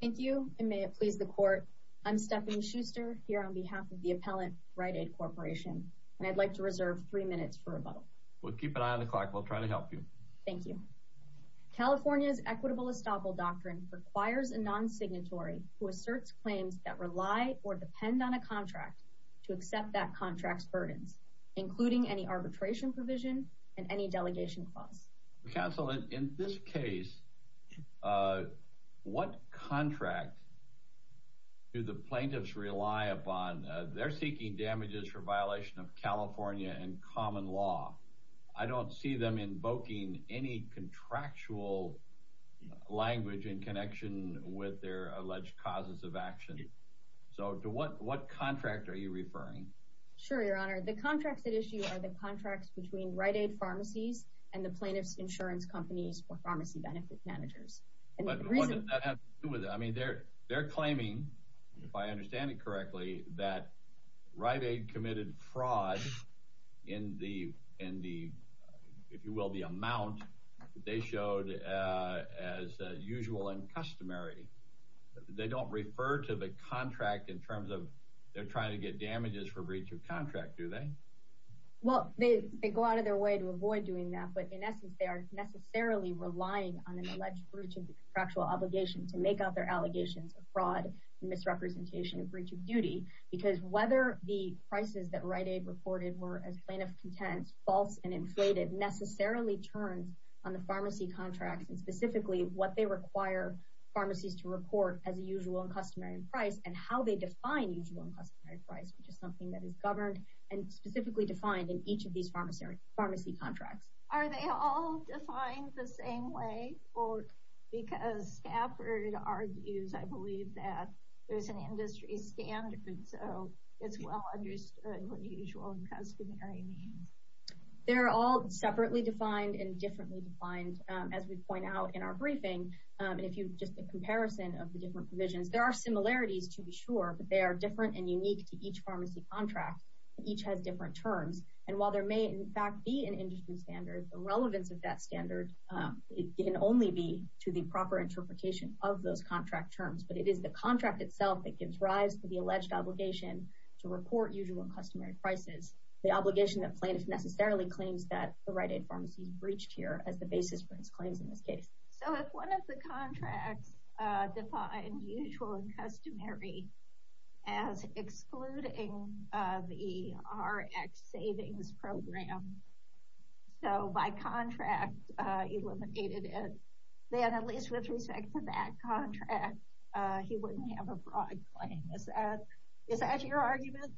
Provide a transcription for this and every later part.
Thank you and may it please the court. I'm Stephanie Schuster here on behalf of the appellant Rite Aid Corporation and I'd like to reserve three minutes for rebuttal. We'll keep an eye on the clock we'll try to help you. Thank you. California's equitable estoppel doctrine requires a non-signatory who asserts claims that rely or depend on a contract to accept that contract's burdens including any arbitration provision and any delegation clause. Counsel in this case, what contract do the plaintiffs rely upon? They're seeking damages for violation of California and common law. I don't see them invoking any contractual language in connection with their alleged causes of action. So to what what contract are you referring? Sure your honor the contracts at issue are the contracts between Rite Aid pharmacies and the plaintiffs insurance companies or pharmacy benefit managers. I mean they're they're claiming if I understand it correctly that Rite Aid committed fraud in the in the if you will the amount they showed as usual and customary. They don't refer to the contract in terms of they're trying to get damages for breach of contract do they? Well they go out of their way to avoid doing that but in essence they are necessarily relying on an alleged breach of the contractual obligation to make out their allegations of fraud and misrepresentation of breach of duty because whether the prices that Rite Aid reported were as plaintiff content false and inflated necessarily turns on the pharmacy contracts and specifically what they require pharmacies to report as a usual and customary price and how they define usual and customary price which is something that is governed and specifically defined in each of these pharmacy contracts. Are they all defined the same way or because Stafford argues I believe that there's an industry standard so it's well understood what usual and customary means. They're all separately defined and differently defined as we point out in our briefing and if you just a comparison of the different provisions there are similarities to be sure but they are different and unique to each pharmacy contract each has different terms and while there may in fact be an industry standard the relevance of that standard it can only be to the proper interpretation of those contract terms but it is the contract itself that gives rise to the alleged obligation to report usual and customary prices the obligation that plaintiffs necessarily claims that the Rite Aid pharmacies breached here as the basis for his claims in this case. So if one of the so by contract eliminated it then at least with respect to that contract he wouldn't have a fraud claim. Is that your argument?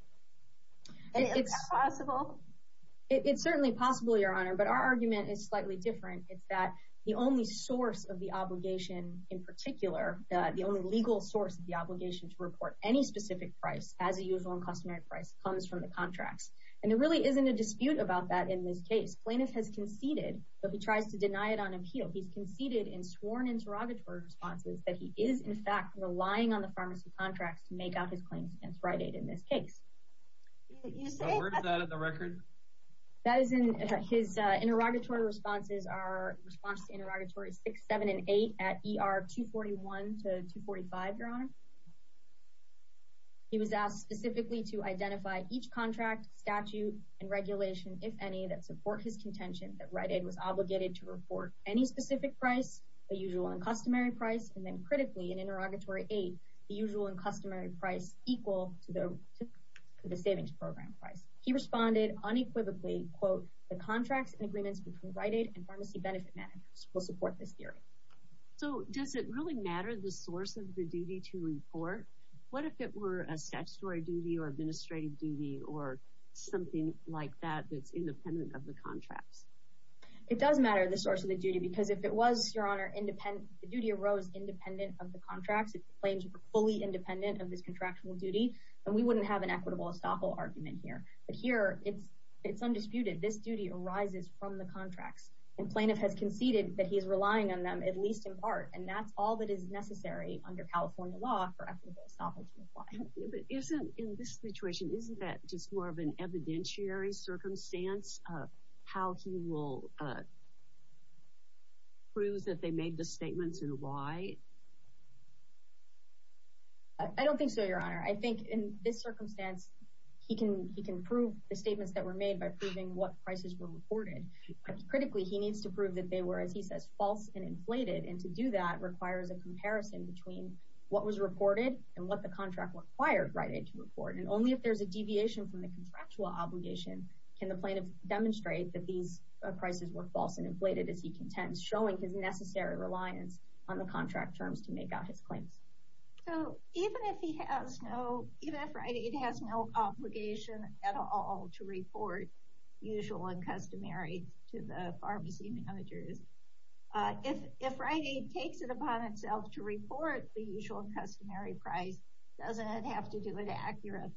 Is that possible? It's certainly possible your honor but our argument is slightly different it's that the only source of the obligation in particular the only legal source of the obligation to report any specific price as a usual and customary price comes from the has conceded but he tries to deny it on appeal he's conceded in sworn interrogatory responses that he is in fact relying on the pharmacy contracts to make out his claims against Rite Aid in this case. So where is that in the record? That is in his interrogatory responses are response to interrogatory six seven and eight at ER 241 to 245 your honor. He was asked specifically to identify each that Rite Aid was obligated to report any specific price the usual and customary price and then critically in interrogatory eight the usual and customary price equal to the savings program price. He responded unequivocally quote the contracts and agreements between Rite Aid and pharmacy benefit managers will support this theory. So does it really matter the source of the duty to report? What if it were a statutory duty or administrative duty or something like that that's independent of the contracts? It does matter the source of the duty because if it was your honor independent the duty arose independent of the contracts it claims were fully independent of this contractual duty and we wouldn't have an equitable estoppel argument here. But here it's it's undisputed this duty arises from the contracts and plaintiff has conceded that he is relying on them at least in part and that's all that is necessary under California law for equitable estoppel to apply. But isn't in this situation isn't that just more of an evidentiary circumstance of how he will prove that they made the statements and why? I don't think so your honor. I think in this circumstance he can he can prove the statements that were made by proving what prices were reported. Critically he needs to prove that they were as he says false and inflated and to do that requires a comparison between what was reported and what the contract required Rite Aid to report and only if there's a deviation from the contractual obligation can the plaintiff demonstrate that these prices were false and inflated as he contends showing his necessary reliance on the contract terms to make out his claims. So even if he has no even if Rite Aid has no obligation at all to report usual and customary to the pharmacy managers if if Rite Aid takes it upon itself to report the usual and customary price doesn't have to do it accurately.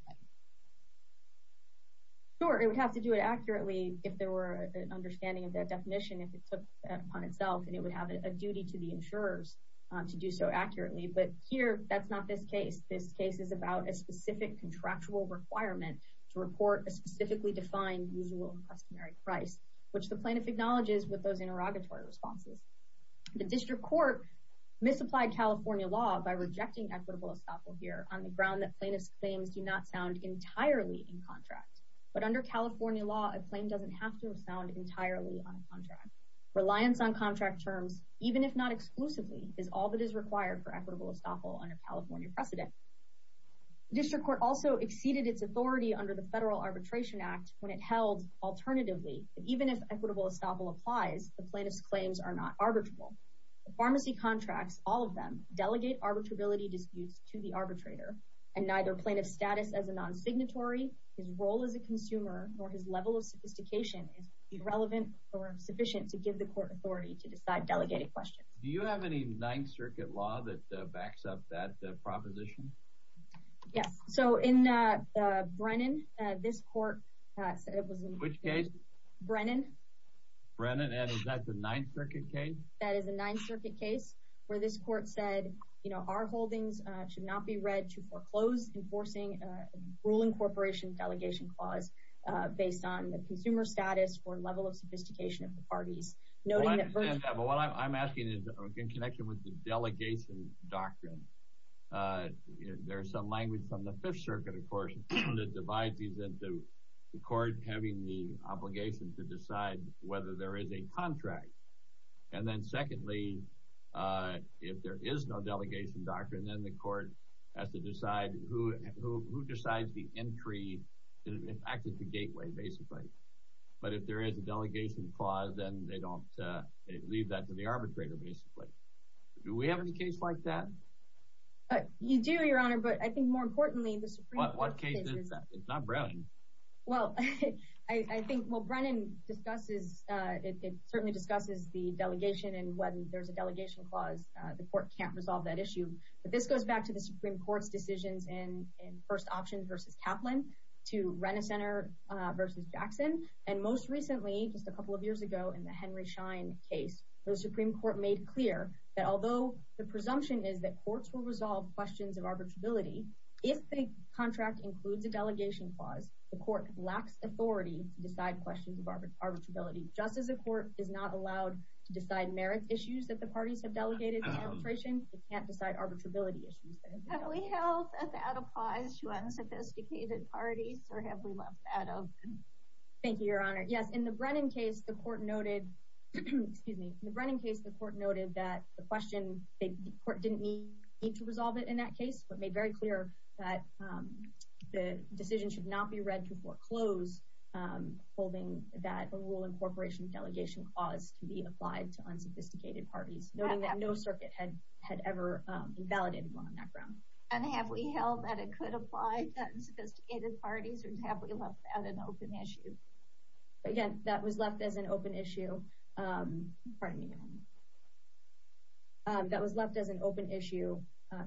Sure it would have to do it accurately if there were an understanding of that definition if it took upon itself and it would have a duty to the insurers to do so accurately but here that's not this case. This case is about a specific contractual requirement to report a specifically defined usual and customary price which the plaintiff acknowledges with those interrogatory responses. The district court misapplied California law by rejecting equitable estoppel here on the ground that plaintiff's claims do not sound entirely in contract but under California law a claim doesn't have to sound entirely on a contract. Reliance on contract terms even if not exclusively is all that is required for equitable estoppel under California precedent. District Court also exceeded its authority under the Federal Arbitration Act when it held alternatively even if equitable estoppel applies the plaintiff's claims are not arbitrable. The pharmacy contracts all of them delegate arbitrability disputes to the arbitrator and neither plaintiff's status as a non-signatory, his role as a consumer or his level of sophistication is irrelevant or sufficient to give the court authority to decide delegated questions. Do you have any Ninth Circuit law that Brennan is that the Ninth Circuit case? That is a Ninth Circuit case where this court said you know our holdings should not be read to foreclose enforcing ruling corporation delegation clause based on the consumer status or level of sophistication of the parties. What I'm asking is in connection with the delegation doctrine there's some language from the Fifth Circuit of the court having the obligation to decide whether there is a contract and then secondly if there is no delegation doctrine then the court has to decide who decides the entry and access to gateway basically but if there is a delegation clause then they don't leave that to the arbitrator basically. Do we have any case like that? You do your honor but I think more importantly the Browning. Well I think what Brennan discusses it certainly discusses the delegation and when there's a delegation clause the court can't resolve that issue but this goes back to the Supreme Court's decisions in first options versus Kaplan to Renner Center versus Jackson and most recently just a couple of years ago in the Henry Schein case the Supreme Court made clear that although the presumption is that courts will resolve questions of arbitrability if the contract includes a delegation clause the court lacks authority to decide questions of arbitrability just as a court is not allowed to decide merits issues that the parties have delegated to the administration it can't decide arbitrability issues. Have we held that applies to unsophisticated parties or have we left that out? Thank you your honor yes in the Brennan case the court noted excuse me the Brennan case the court noted that the question the court didn't need to resolve it in that case but made very clear that the decision should not be read to foreclose holding that a rule incorporation delegation clause to be applied to unsophisticated parties noting that no circuit had had ever invalidated on that ground. And have we held that it could apply to unsophisticated parties or have we left that an open issue? Again that was left as an open issue pardon me your honor that was left as an open issue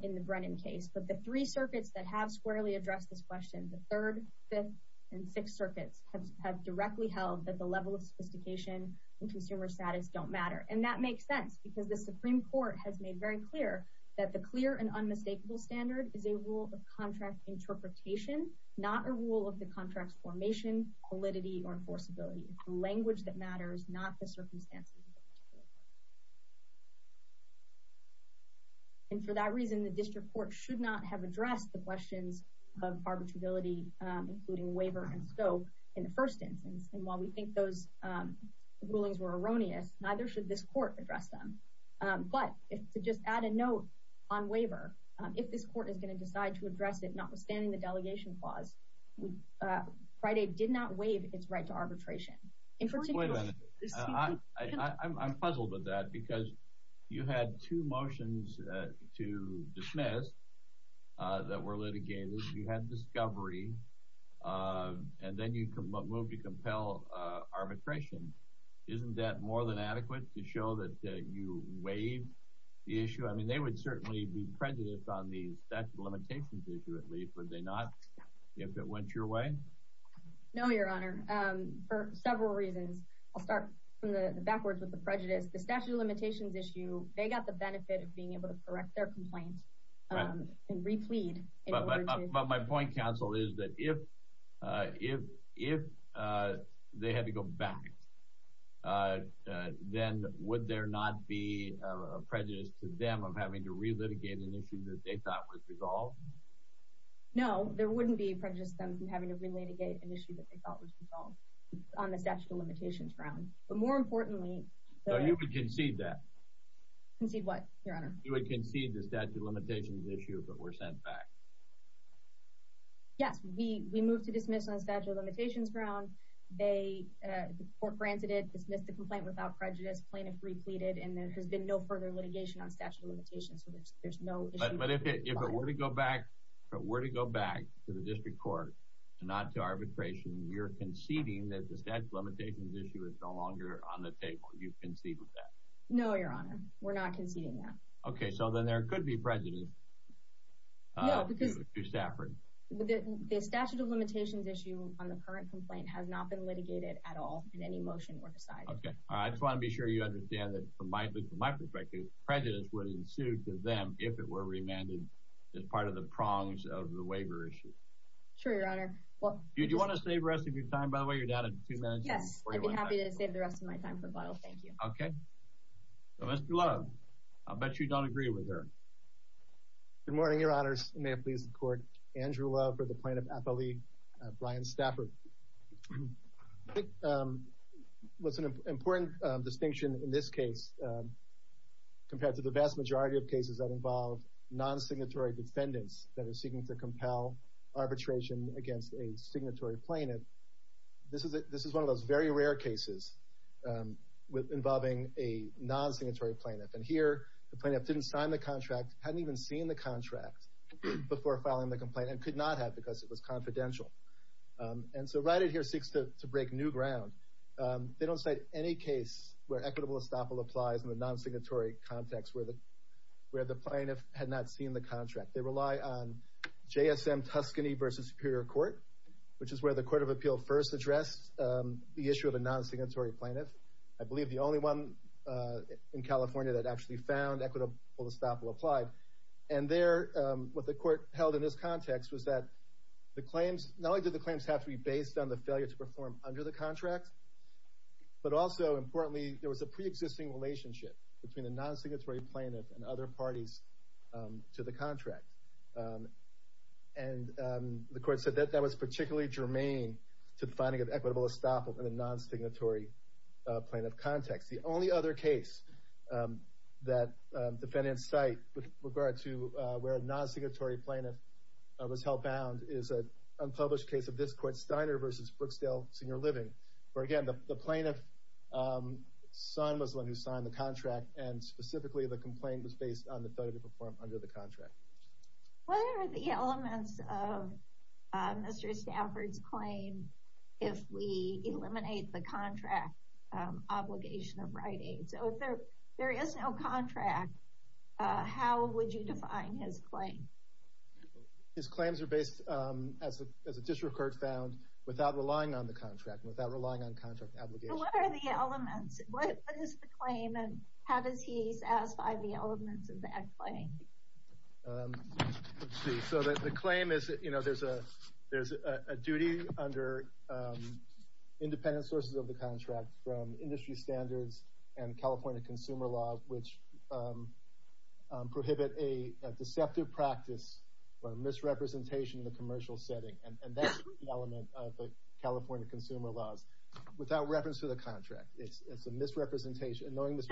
in the Brennan case but the three circuits that have squarely addressed this question the third fifth and sixth circuits have directly held that the level of sophistication and consumer status don't matter and that makes sense because the Supreme Court has made very clear that the clear and unmistakable standard is a rule of contract interpretation not a rule of the contracts formation validity or enforceability language that matters not the circumstances and for that reason the district court should not have addressed the questions of arbitrability including waiver and scope in the first instance and while we think those rulings were erroneous neither should this court address them but if to just add a note on waiver if this court is going to decide to address it notwithstanding the delegation clause Friday did not waive its right to arbitration in particular I'm puzzled with that because you had two motions to dismiss that were litigated you had discovery and then you come up move to compel arbitration isn't that more than adequate to show that you waive the issue I mean they would certainly be went your way no your honor for several reasons I'll start from the backwards with the prejudice the statute of limitations issue they got the benefit of being able to correct their complaints and replete but my point counsel is that if if if they had to go back then would there not be prejudice to them of having to relitigate an issue that they thought was resolved no there having to relitigate an issue that they thought was resolved on the statute of limitations ground but more importantly so you could concede that concede what your honor you would concede the statute of limitations issue but were sent back yes we we moved to dismiss on statute of limitations ground they for granted it dismissed the complaint without prejudice plaintiff repleted and there has been no further litigation on statute of limitations so there's no but if it were to go back but were to go back to the district court and not to arbitration you're conceding that the statute of limitations issue is no longer on the table you've conceded that no your honor we're not conceding that okay so then there could be prejudice the statute of limitations issue on the current complaint has not been litigated at all in any motion or decided I just want to be sure you understand that from my perspective prejudice would ensue to them if it were remanded as part of the prongs of the waiver issue sure your honor well you do want to save rest of your time by the way you're down in two minutes yes I'd be happy to save the rest of my time for a while thank you okay so mr. Love I bet you don't agree with her good morning your honors may it please the court Andrew Love for the plaintiff appellee Brian Stafford what's an important distinction in this case compared to the majority of cases that involve non-signatory defendants that are seeking to compel arbitration against a signatory plaintiff this is it this is one of those very rare cases with involving a non-signatory plaintiff and here the plaintiff didn't sign the contract hadn't even seen the contract before filing the complaint and could not have because it was confidential and so right it here seeks to break new ground they don't say any case where equitable estoppel applies in the non-signatory context where the where the plaintiff had not seen the contract they rely on JSM Tuscany versus Superior Court which is where the Court of Appeal first addressed the issue of a non-signatory plaintiff I believe the only one in California that actually found equitable estoppel applied and there what the court held in this context was that the claims not only did the claims have to be based on the failure to perform under the contract but also importantly there was a pre-existing relationship between the non-signatory plaintiff and other parties to the contract and the court said that that was particularly germane to the finding of equitable estoppel in the non-signatory plaintiff context the only other case that defendants cite with regard to where a non-signatory plaintiff was held bound is a unpublished case of this court Steiner versus Brooksdale Senior Living where again the plaintiff's son was the one who signed the contract and specifically the complaint was based on the failure to perform under the contract what are the elements of Mr. Stafford's claim if we eliminate the contract obligation of writing so if there there is no contract how would you define his claim his record found without relying on the contract without relying on contract obligation so that the claim is you know there's a there's a duty under independent sources of the contract from industry standards and California consumer laws which prohibit a deceptive practice or misrepresentation in the California consumer laws without reference to the contract it's a misrepresentation knowing this is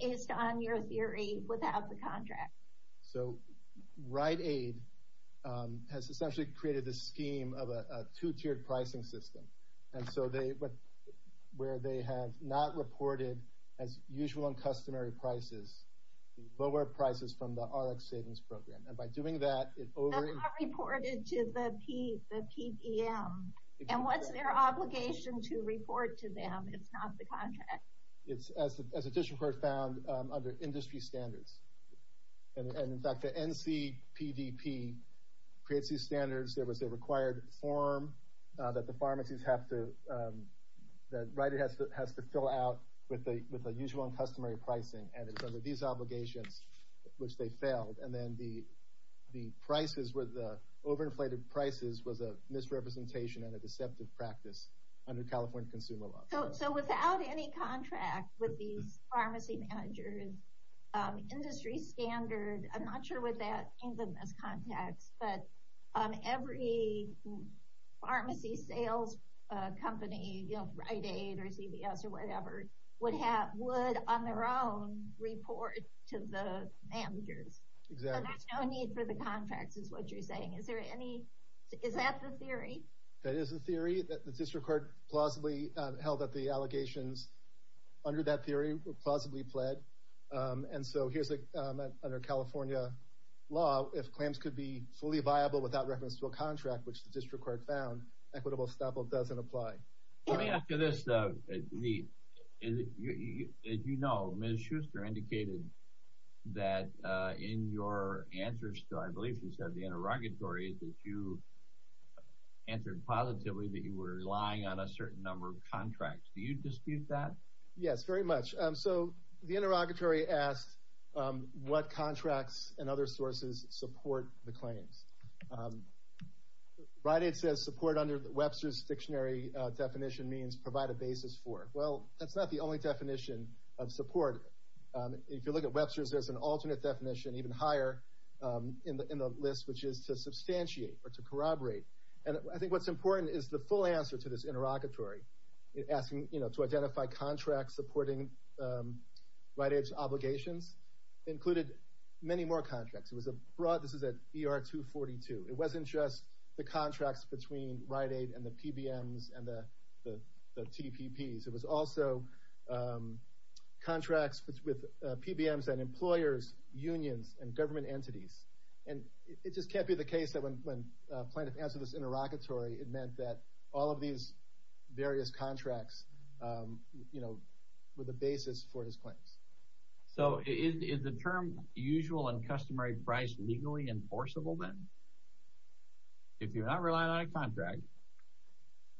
based on your theory without the contract so Rite Aid has essentially created a scheme of a two-tiered pricing system and so they but where they have not reported as usual and customary prices lower prices from the RX savings program and by doing that it over reported to the P the PDM and what's their obligation to report to them it's not the contract it's as a district court found under industry standards and in fact the NC PDP creates these standards there was a required form that the pharmacies have to that right it has to has to fill out with the with a usual customary pricing and it's under these obligations which they failed and then the the prices were the over inflated prices was a misrepresentation and a deceptive practice under California consumer law so without any contract with these pharmacy managers industry standard I'm not sure what that means in this context but every pharmacy sales company you know Rite Aid or CVS or on their own report to the managers there's no need for the contracts is what you're saying is there any is that the theory that is a theory that the district court plausibly held that the allegations under that theory were plausibly pled and so here's a under California law if claims could be fully viable without reference to a contract which the district court found equitable doesn't apply. Let me ask you this, as you know Ms. Schuster indicated that in your answers to I believe she said the interrogatory that you answered positively that you were relying on a certain number of contracts do you dispute that? Yes very much so the interrogatory asked what contracts and Webster's dictionary definition means provide a basis for well that's not the only definition of support if you look at Webster's there's an alternate definition even higher in the list which is to substantiate or to corroborate and I think what's important is the full answer to this interrogatory asking you know to identify contracts supporting Rite Aid's obligations included many more contracts it was a broad this is at ER 242 it wasn't just the contracts between Rite Aid and the PBMs and the TPPs it was also contracts with PBMs and employers unions and government entities and it just can't be the case that when plaintiff answered this interrogatory it meant that all of these various contracts you know were the basis for his claims. So is the term usual and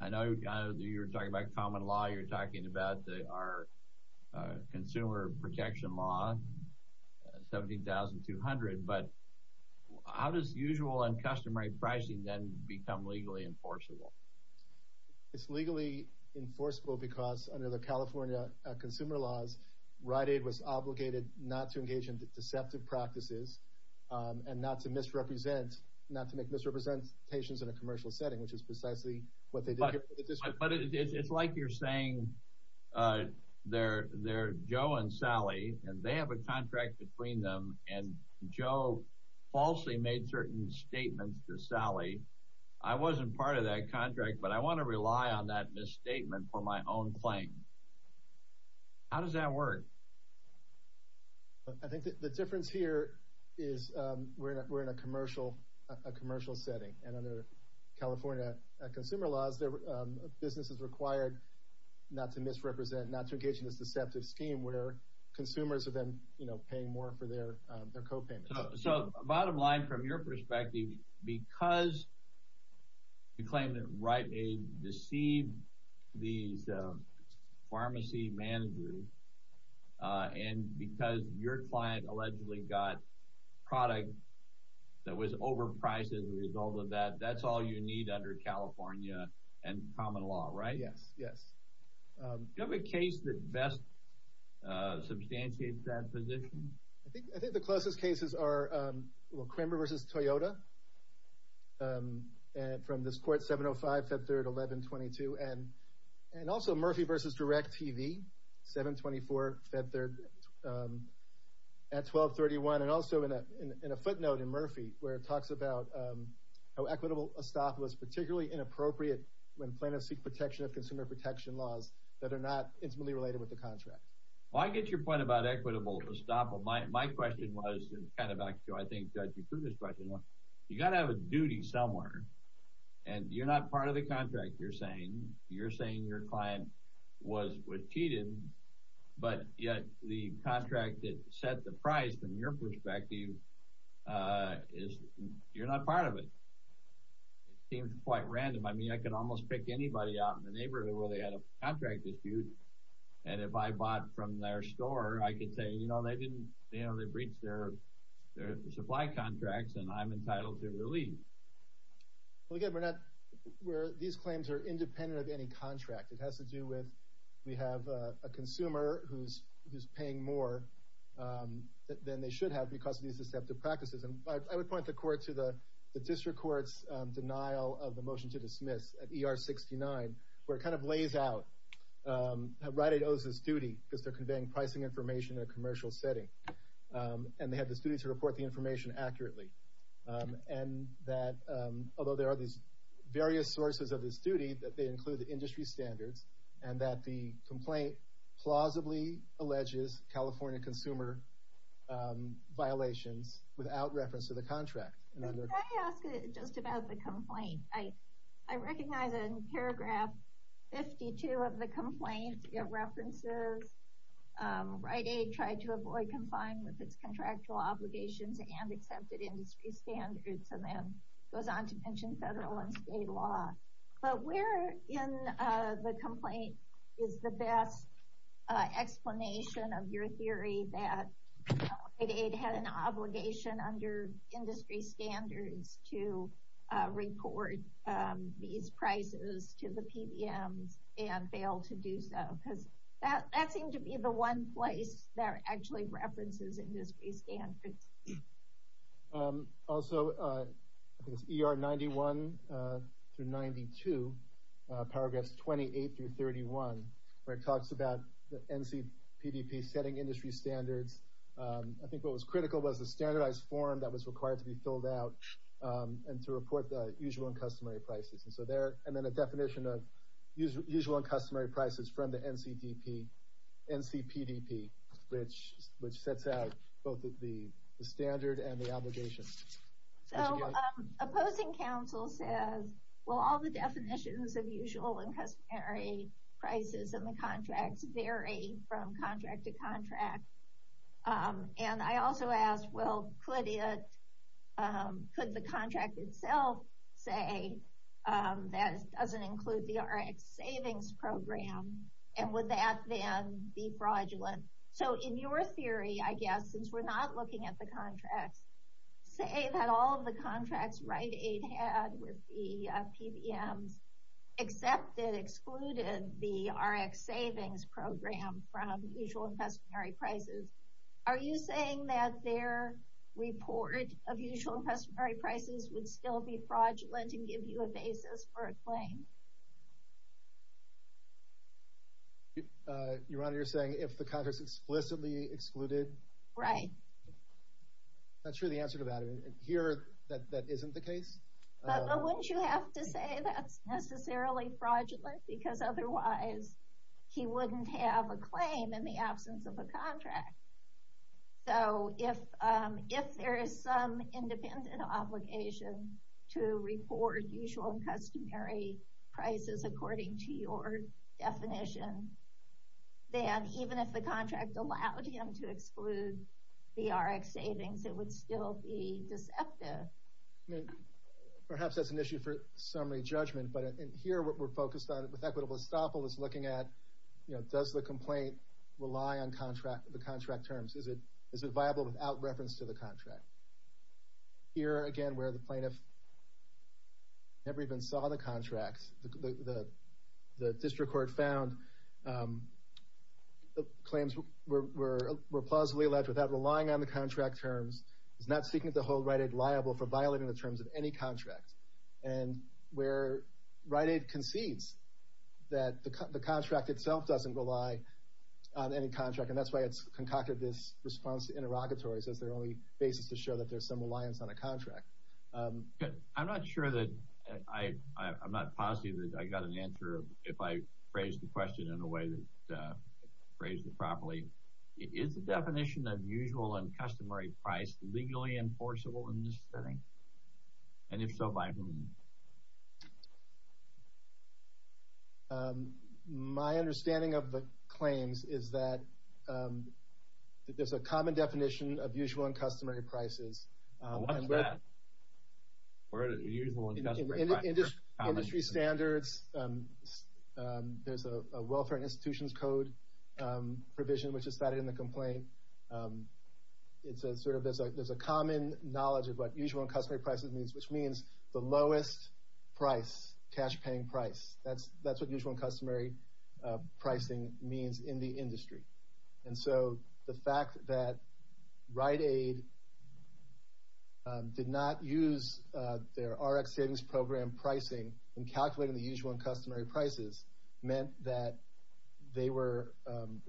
I know you're talking about common law you're talking about our consumer protection law 17,200 but how does usual and customary pricing then become legally enforceable? It's legally enforceable because under the California consumer laws Rite Aid was obligated not to engage in deceptive practices and not to misrepresent not to make misrepresentations in a commercial setting which is precisely what they did. But it's like you're saying they're they're Joe and Sally and they have a contract between them and Joe falsely made certain statements to Sally I wasn't part of that contract but I want to rely on that misstatement for my own claim. How does that work? I think the difference here is we're in a commercial a commercial setting and under California consumer laws their business is required not to misrepresent not to engage in this deceptive scheme where consumers are then you know paying more for their their copayments. So bottom line from your perspective because you claim that Rite Aid deceived these pharmacy managers and because your client allegedly got product that was overpriced as a result of that that's all you need under California and common law right? Yes, yes. Do you have a case that best substantiates that position? I think the closest cases are Cranber versus Toyota and from this court 705 Feb 3rd 1122 and and also Murphy versus DirecTV 724 Feb 3rd at 1231 and also in a footnote in Murphy where it talks about how equitable estoppel is particularly inappropriate when plaintiffs seek protection of consumer protection laws that are not intimately related with the contract. Why get your point about equitable estoppel? My question was kind of back to I think you threw this question. You got to have a duty somewhere and you're not part of the contract you're saying you're saying your client was cheated but yet the contract that set the price from your perspective is you're not part of it. It seems quite random I mean I could almost pick anybody out in the neighborhood where they had a contract dispute and if I bought from their store I could say you know they didn't you know they breached their supply contracts and I'm entitled to It has to do with we have a consumer who's who's paying more than they should have because of these deceptive practices and I would point the court to the the district courts denial of the motion to dismiss at ER 69 where it kind of lays out how Rite Aid owes its duty because they're conveying pricing information in a commercial setting and they have the students who report the information accurately and that although there are these various sources of this standards and that the complaint plausibly alleges California consumer violations without reference to the contract. Can I ask just about the complaint? I recognize in paragraph 52 of the complaint it references Rite Aid tried to avoid confine with its contractual obligations and accepted industry standards and then goes on to mention federal and state law. But where in the complaint is the best explanation of your theory that Rite Aid had an obligation under industry standards to report these prices to the PBMs and failed to do so because that that seemed to be the one place that actually references industry standards. Also ER 91-92 paragraphs 28-31 where it talks about the NCPDP setting industry standards. I think what was critical was the standardized form that was required to be filled out and to report the usual and customary prices and so there and then a definition of usual and customary prices from the standard and the obligation. So opposing counsel says well all the definitions of usual and customary prices and the contracts vary from contract to contract and I also ask well could the contract itself say that it doesn't include the RX savings program and would that then be fraudulent? So in your theory I guess since we're not looking at the contracts say that all of the contracts Rite Aid had with the PBMs accepted excluded the RX savings program from usual and customary prices. Are you saying that their report of usual and customary prices would still be fraudulent and give you a basis for a claim? Your Honor, you're saying if the contract is explicitly excluded? Right. I'm not sure the answer to that. Here that isn't the case? But wouldn't you have to say that's necessarily fraudulent because otherwise he wouldn't have a claim in the absence of a contract. So if there is some obligation to report usual and customary prices according to your definition then even if the contract allowed him to exclude the RX savings it would still be deceptive. Perhaps that's an issue for summary judgment but here what we're focused on with equitable estoppel is looking at you know does the complaint rely on contract the contract terms is it is it viable without reference to the contract. Here again where the plaintiff never even saw the contracts the district court found the claims were plausibly alleged without relying on the contract terms is not seeking to hold Rite Aid liable for violating the terms of any contract and where Rite Aid concedes that the contract itself doesn't rely on any contract and that's why it's concocted this response to interrogatories as their only basis to show that there's some reliance on a contract. I'm not sure that I'm not positive that I got an answer if I phrased the question in a way that phrased it properly. Is the definition of usual and customary price legally enforceable in this setting and if so by whom? My understanding of the claims is that there's a common definition of usual and customary prices. Industry standards there's a welfare institutions code provision which is cited in the complaint. It's a sort of there's a common knowledge of what usual and customary means which means the lowest price cash paying price that's that's what usual and customary pricing means in the industry and so the fact that Rite Aid did not use their RX savings program pricing and calculating the usual and customary prices meant that they were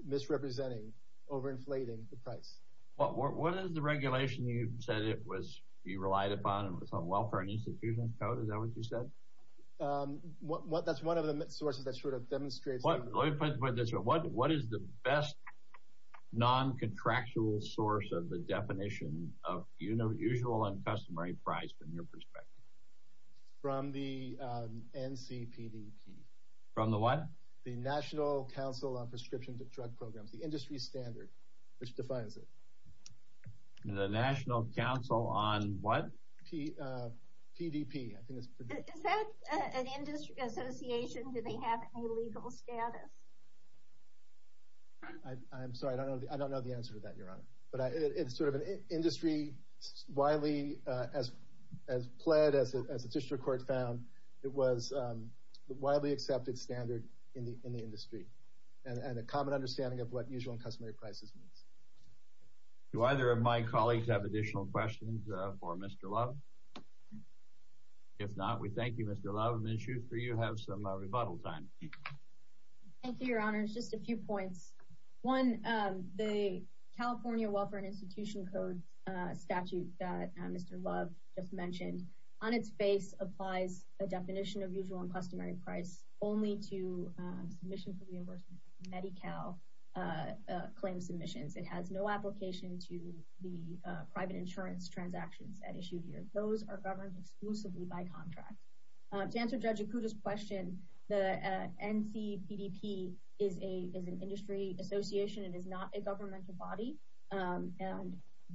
misrepresenting over inflating the price. What is the regulation you said it was you relied upon it was on welfare and institutions code is that what you said? Um what that's one of the sources that sort of demonstrates what let me put this what what is the best non-contractual source of the definition of you know usual and customary price from your perspective? From the NCPDP. From the what? The National Council on Prescription Drug Programs the industry standard which defines it. The National Council on what? PDP. Is that an industry association do they have any legal status? I'm sorry I don't know I don't know the answer to that your honor but it's sort of an industry widely as as pled as a district court found it was the widely accepted standard in the in the industry and a common understanding of what usual and customary prices means. Do either of my colleagues have additional questions for Mr. Love? If not we thank you Mr. Love. Ms. Schuster you have some rebuttal time. Thank you your honors just a few points. One the California Welfare and Institution Code statute that Mr. Love just mentioned on its face applies a definition of usual and customary price only to submission for reimbursement Medi-Cal claim submissions. It has no application to the private insurance transactions at issue here. Those are governed exclusively by contract. To answer Judge Akuta's question the NCPDP is a is an industry association it is not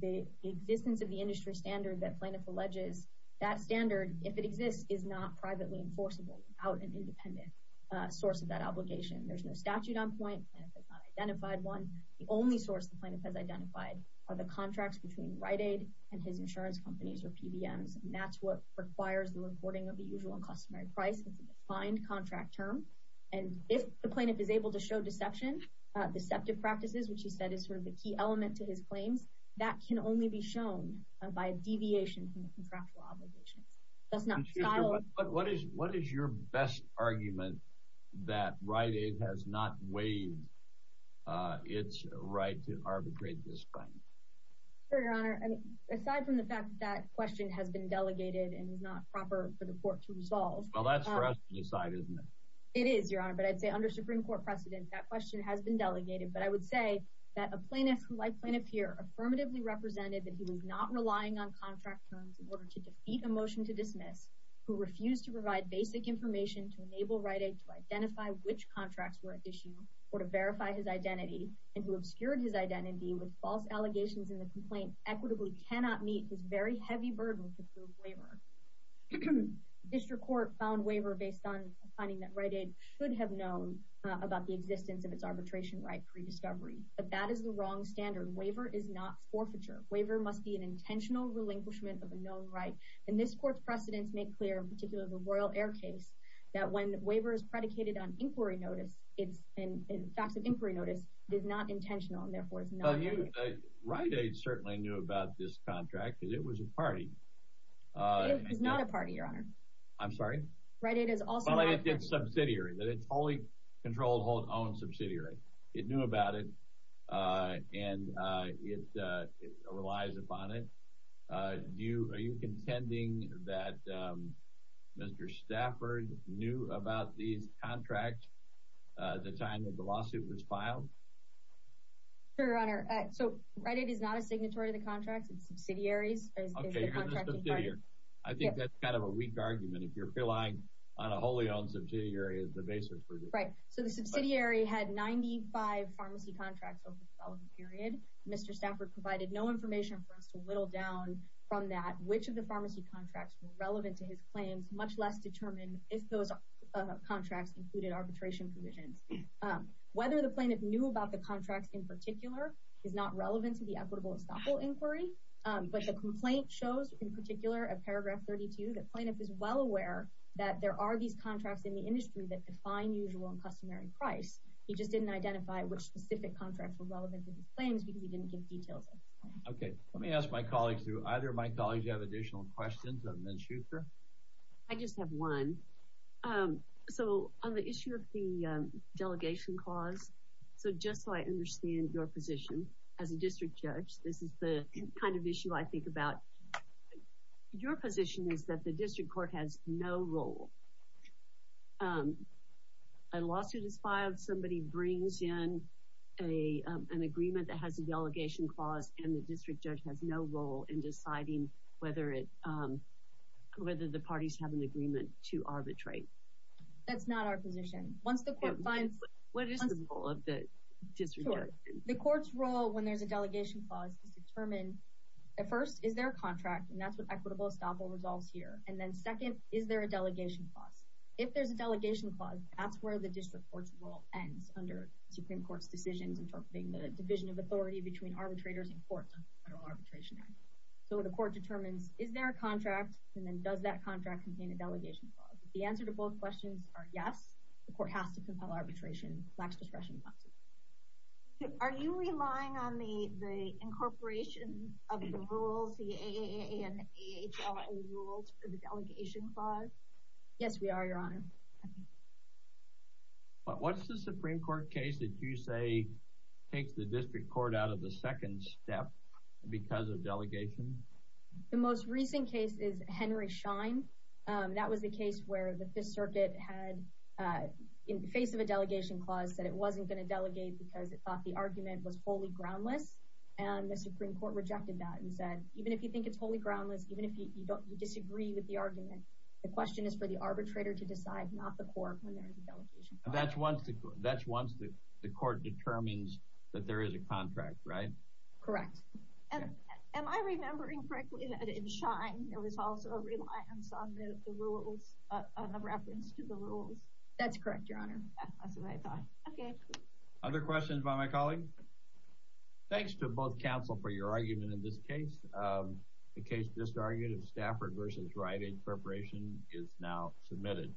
a existence of the industry standard that plaintiff alleges that standard if it exists is not privately enforceable without an independent source of that obligation. There's no statute on point identified one the only source the plaintiff has identified are the contracts between Rite Aid and his insurance companies or PBMs and that's what requires the reporting of the usual and customary price. It's a defined contract term and if the plaintiff is able to show deception deceptive practices which he said is sort of the key element to his claims that can only be shown by a deviation from the contractual obligations. What is your best argument that Rite Aid has not waived its right to arbitrate this claim? Sure your honor I mean aside from the fact that question has been delegated and is not proper for the court to resolve. Well that's for us to decide isn't it? It is your honor but I'd say under Supreme Court precedent that question has been delegated but I would say that a plaintiff affirmatively represented that he was not relying on contract terms in order to defeat a motion to dismiss who refused to provide basic information to enable Rite Aid to identify which contracts were at issue or to verify his identity and who obscured his identity with false allegations in the complaint equitably cannot meet his very heavy burden to prove waiver. District Court found waiver based on finding that Rite Aid should have known about the existence of its arbitration right pre-discovery but that is the wrong standard. Waiver is not forfeiture. Waiver must be an intentional relinquishment of a known right and this court's precedents make clear in particular the Royal Air case that when waiver is predicated on inquiry notice it's in facts of inquiry notice it is not intentional and therefore it's not. Rite Aid certainly knew about this contract because it was a party. It is not a party your honor. I'm sorry? Rite Aid is also a subsidiary that it's wholly controlled hold own subsidiary. It knew about it uh and uh it uh it relies upon it uh do you are you contending that um Mr Stafford knew about these contracts uh at the time that the lawsuit was filed? Sure your honor uh so Rite Aid is not a signatory to the contracts it's subsidiaries. I think that's kind of a weak argument if you're relying on a wholly owned subsidiary as the basis. Right so the subsidiary had 95 pharmacy contracts over the following period. Mr Stafford provided no information for us to whittle down from that which of the pharmacy contracts were relevant to his claims much less determine if those contracts included arbitration provisions. Whether the plaintiff knew about the contracts in particular is not relevant to the equitable estoppel inquiry but the complaint shows in particular at paragraph 32 that plaintiff is aware that there are these contracts in the industry that define usual and customary price. He just didn't identify which specific contracts were relevant to his claims because he didn't give details. Okay let me ask my colleagues who either of my colleagues have additional questions other than Schuster. I just have one um so on the issue of the delegation clause so just so I understand your position as a district judge this is the kind of issue I think about your position is that the district court has no role um a lawsuit is filed somebody brings in a an agreement that has a delegation clause and the district judge has no role in deciding whether it um whether the parties have an agreement to arbitrate. That's not our position once the court finds what is the role of the district the court's role when there's a delegation clause to determine at first is there a contract and that's what equitable estoppel resolves here and then second is there a delegation clause if there's a delegation clause that's where the district court's role ends under supreme court's decisions interpreting the division of authority between arbitrators and courts on the federal arbitration act. So the court determines is there a contract and then does that contract contain a delegation clause if the answer to both questions are yes the court has to compel arbitration lacks discretion. Are you relying on the the incorporation of the rules the AANHRA rules for the delegation clause? Yes we are your honor. But what's the supreme court case that you say takes the district court out of the second step because of delegation? The most recent case is Henry Schein um that was the case where the fifth circuit had uh in the face of a delegation clause that it wasn't going to delegate because it the supreme court rejected that and said even if you think it's wholly groundless even if you don't you disagree with the argument the question is for the arbitrator to decide not the court when there is a delegation. That's once the that's once the court determines that there is a contract right? Correct. And am I remembering correctly that in Schein there was also a reliance on the rules uh on the reference to the rules? That's correct your honor that's what I thought. Okay other questions by my colleague? Thanks to both counsel for your argument in this case um the case disarguted Stafford versus Rite Aid Corporation is now submitted.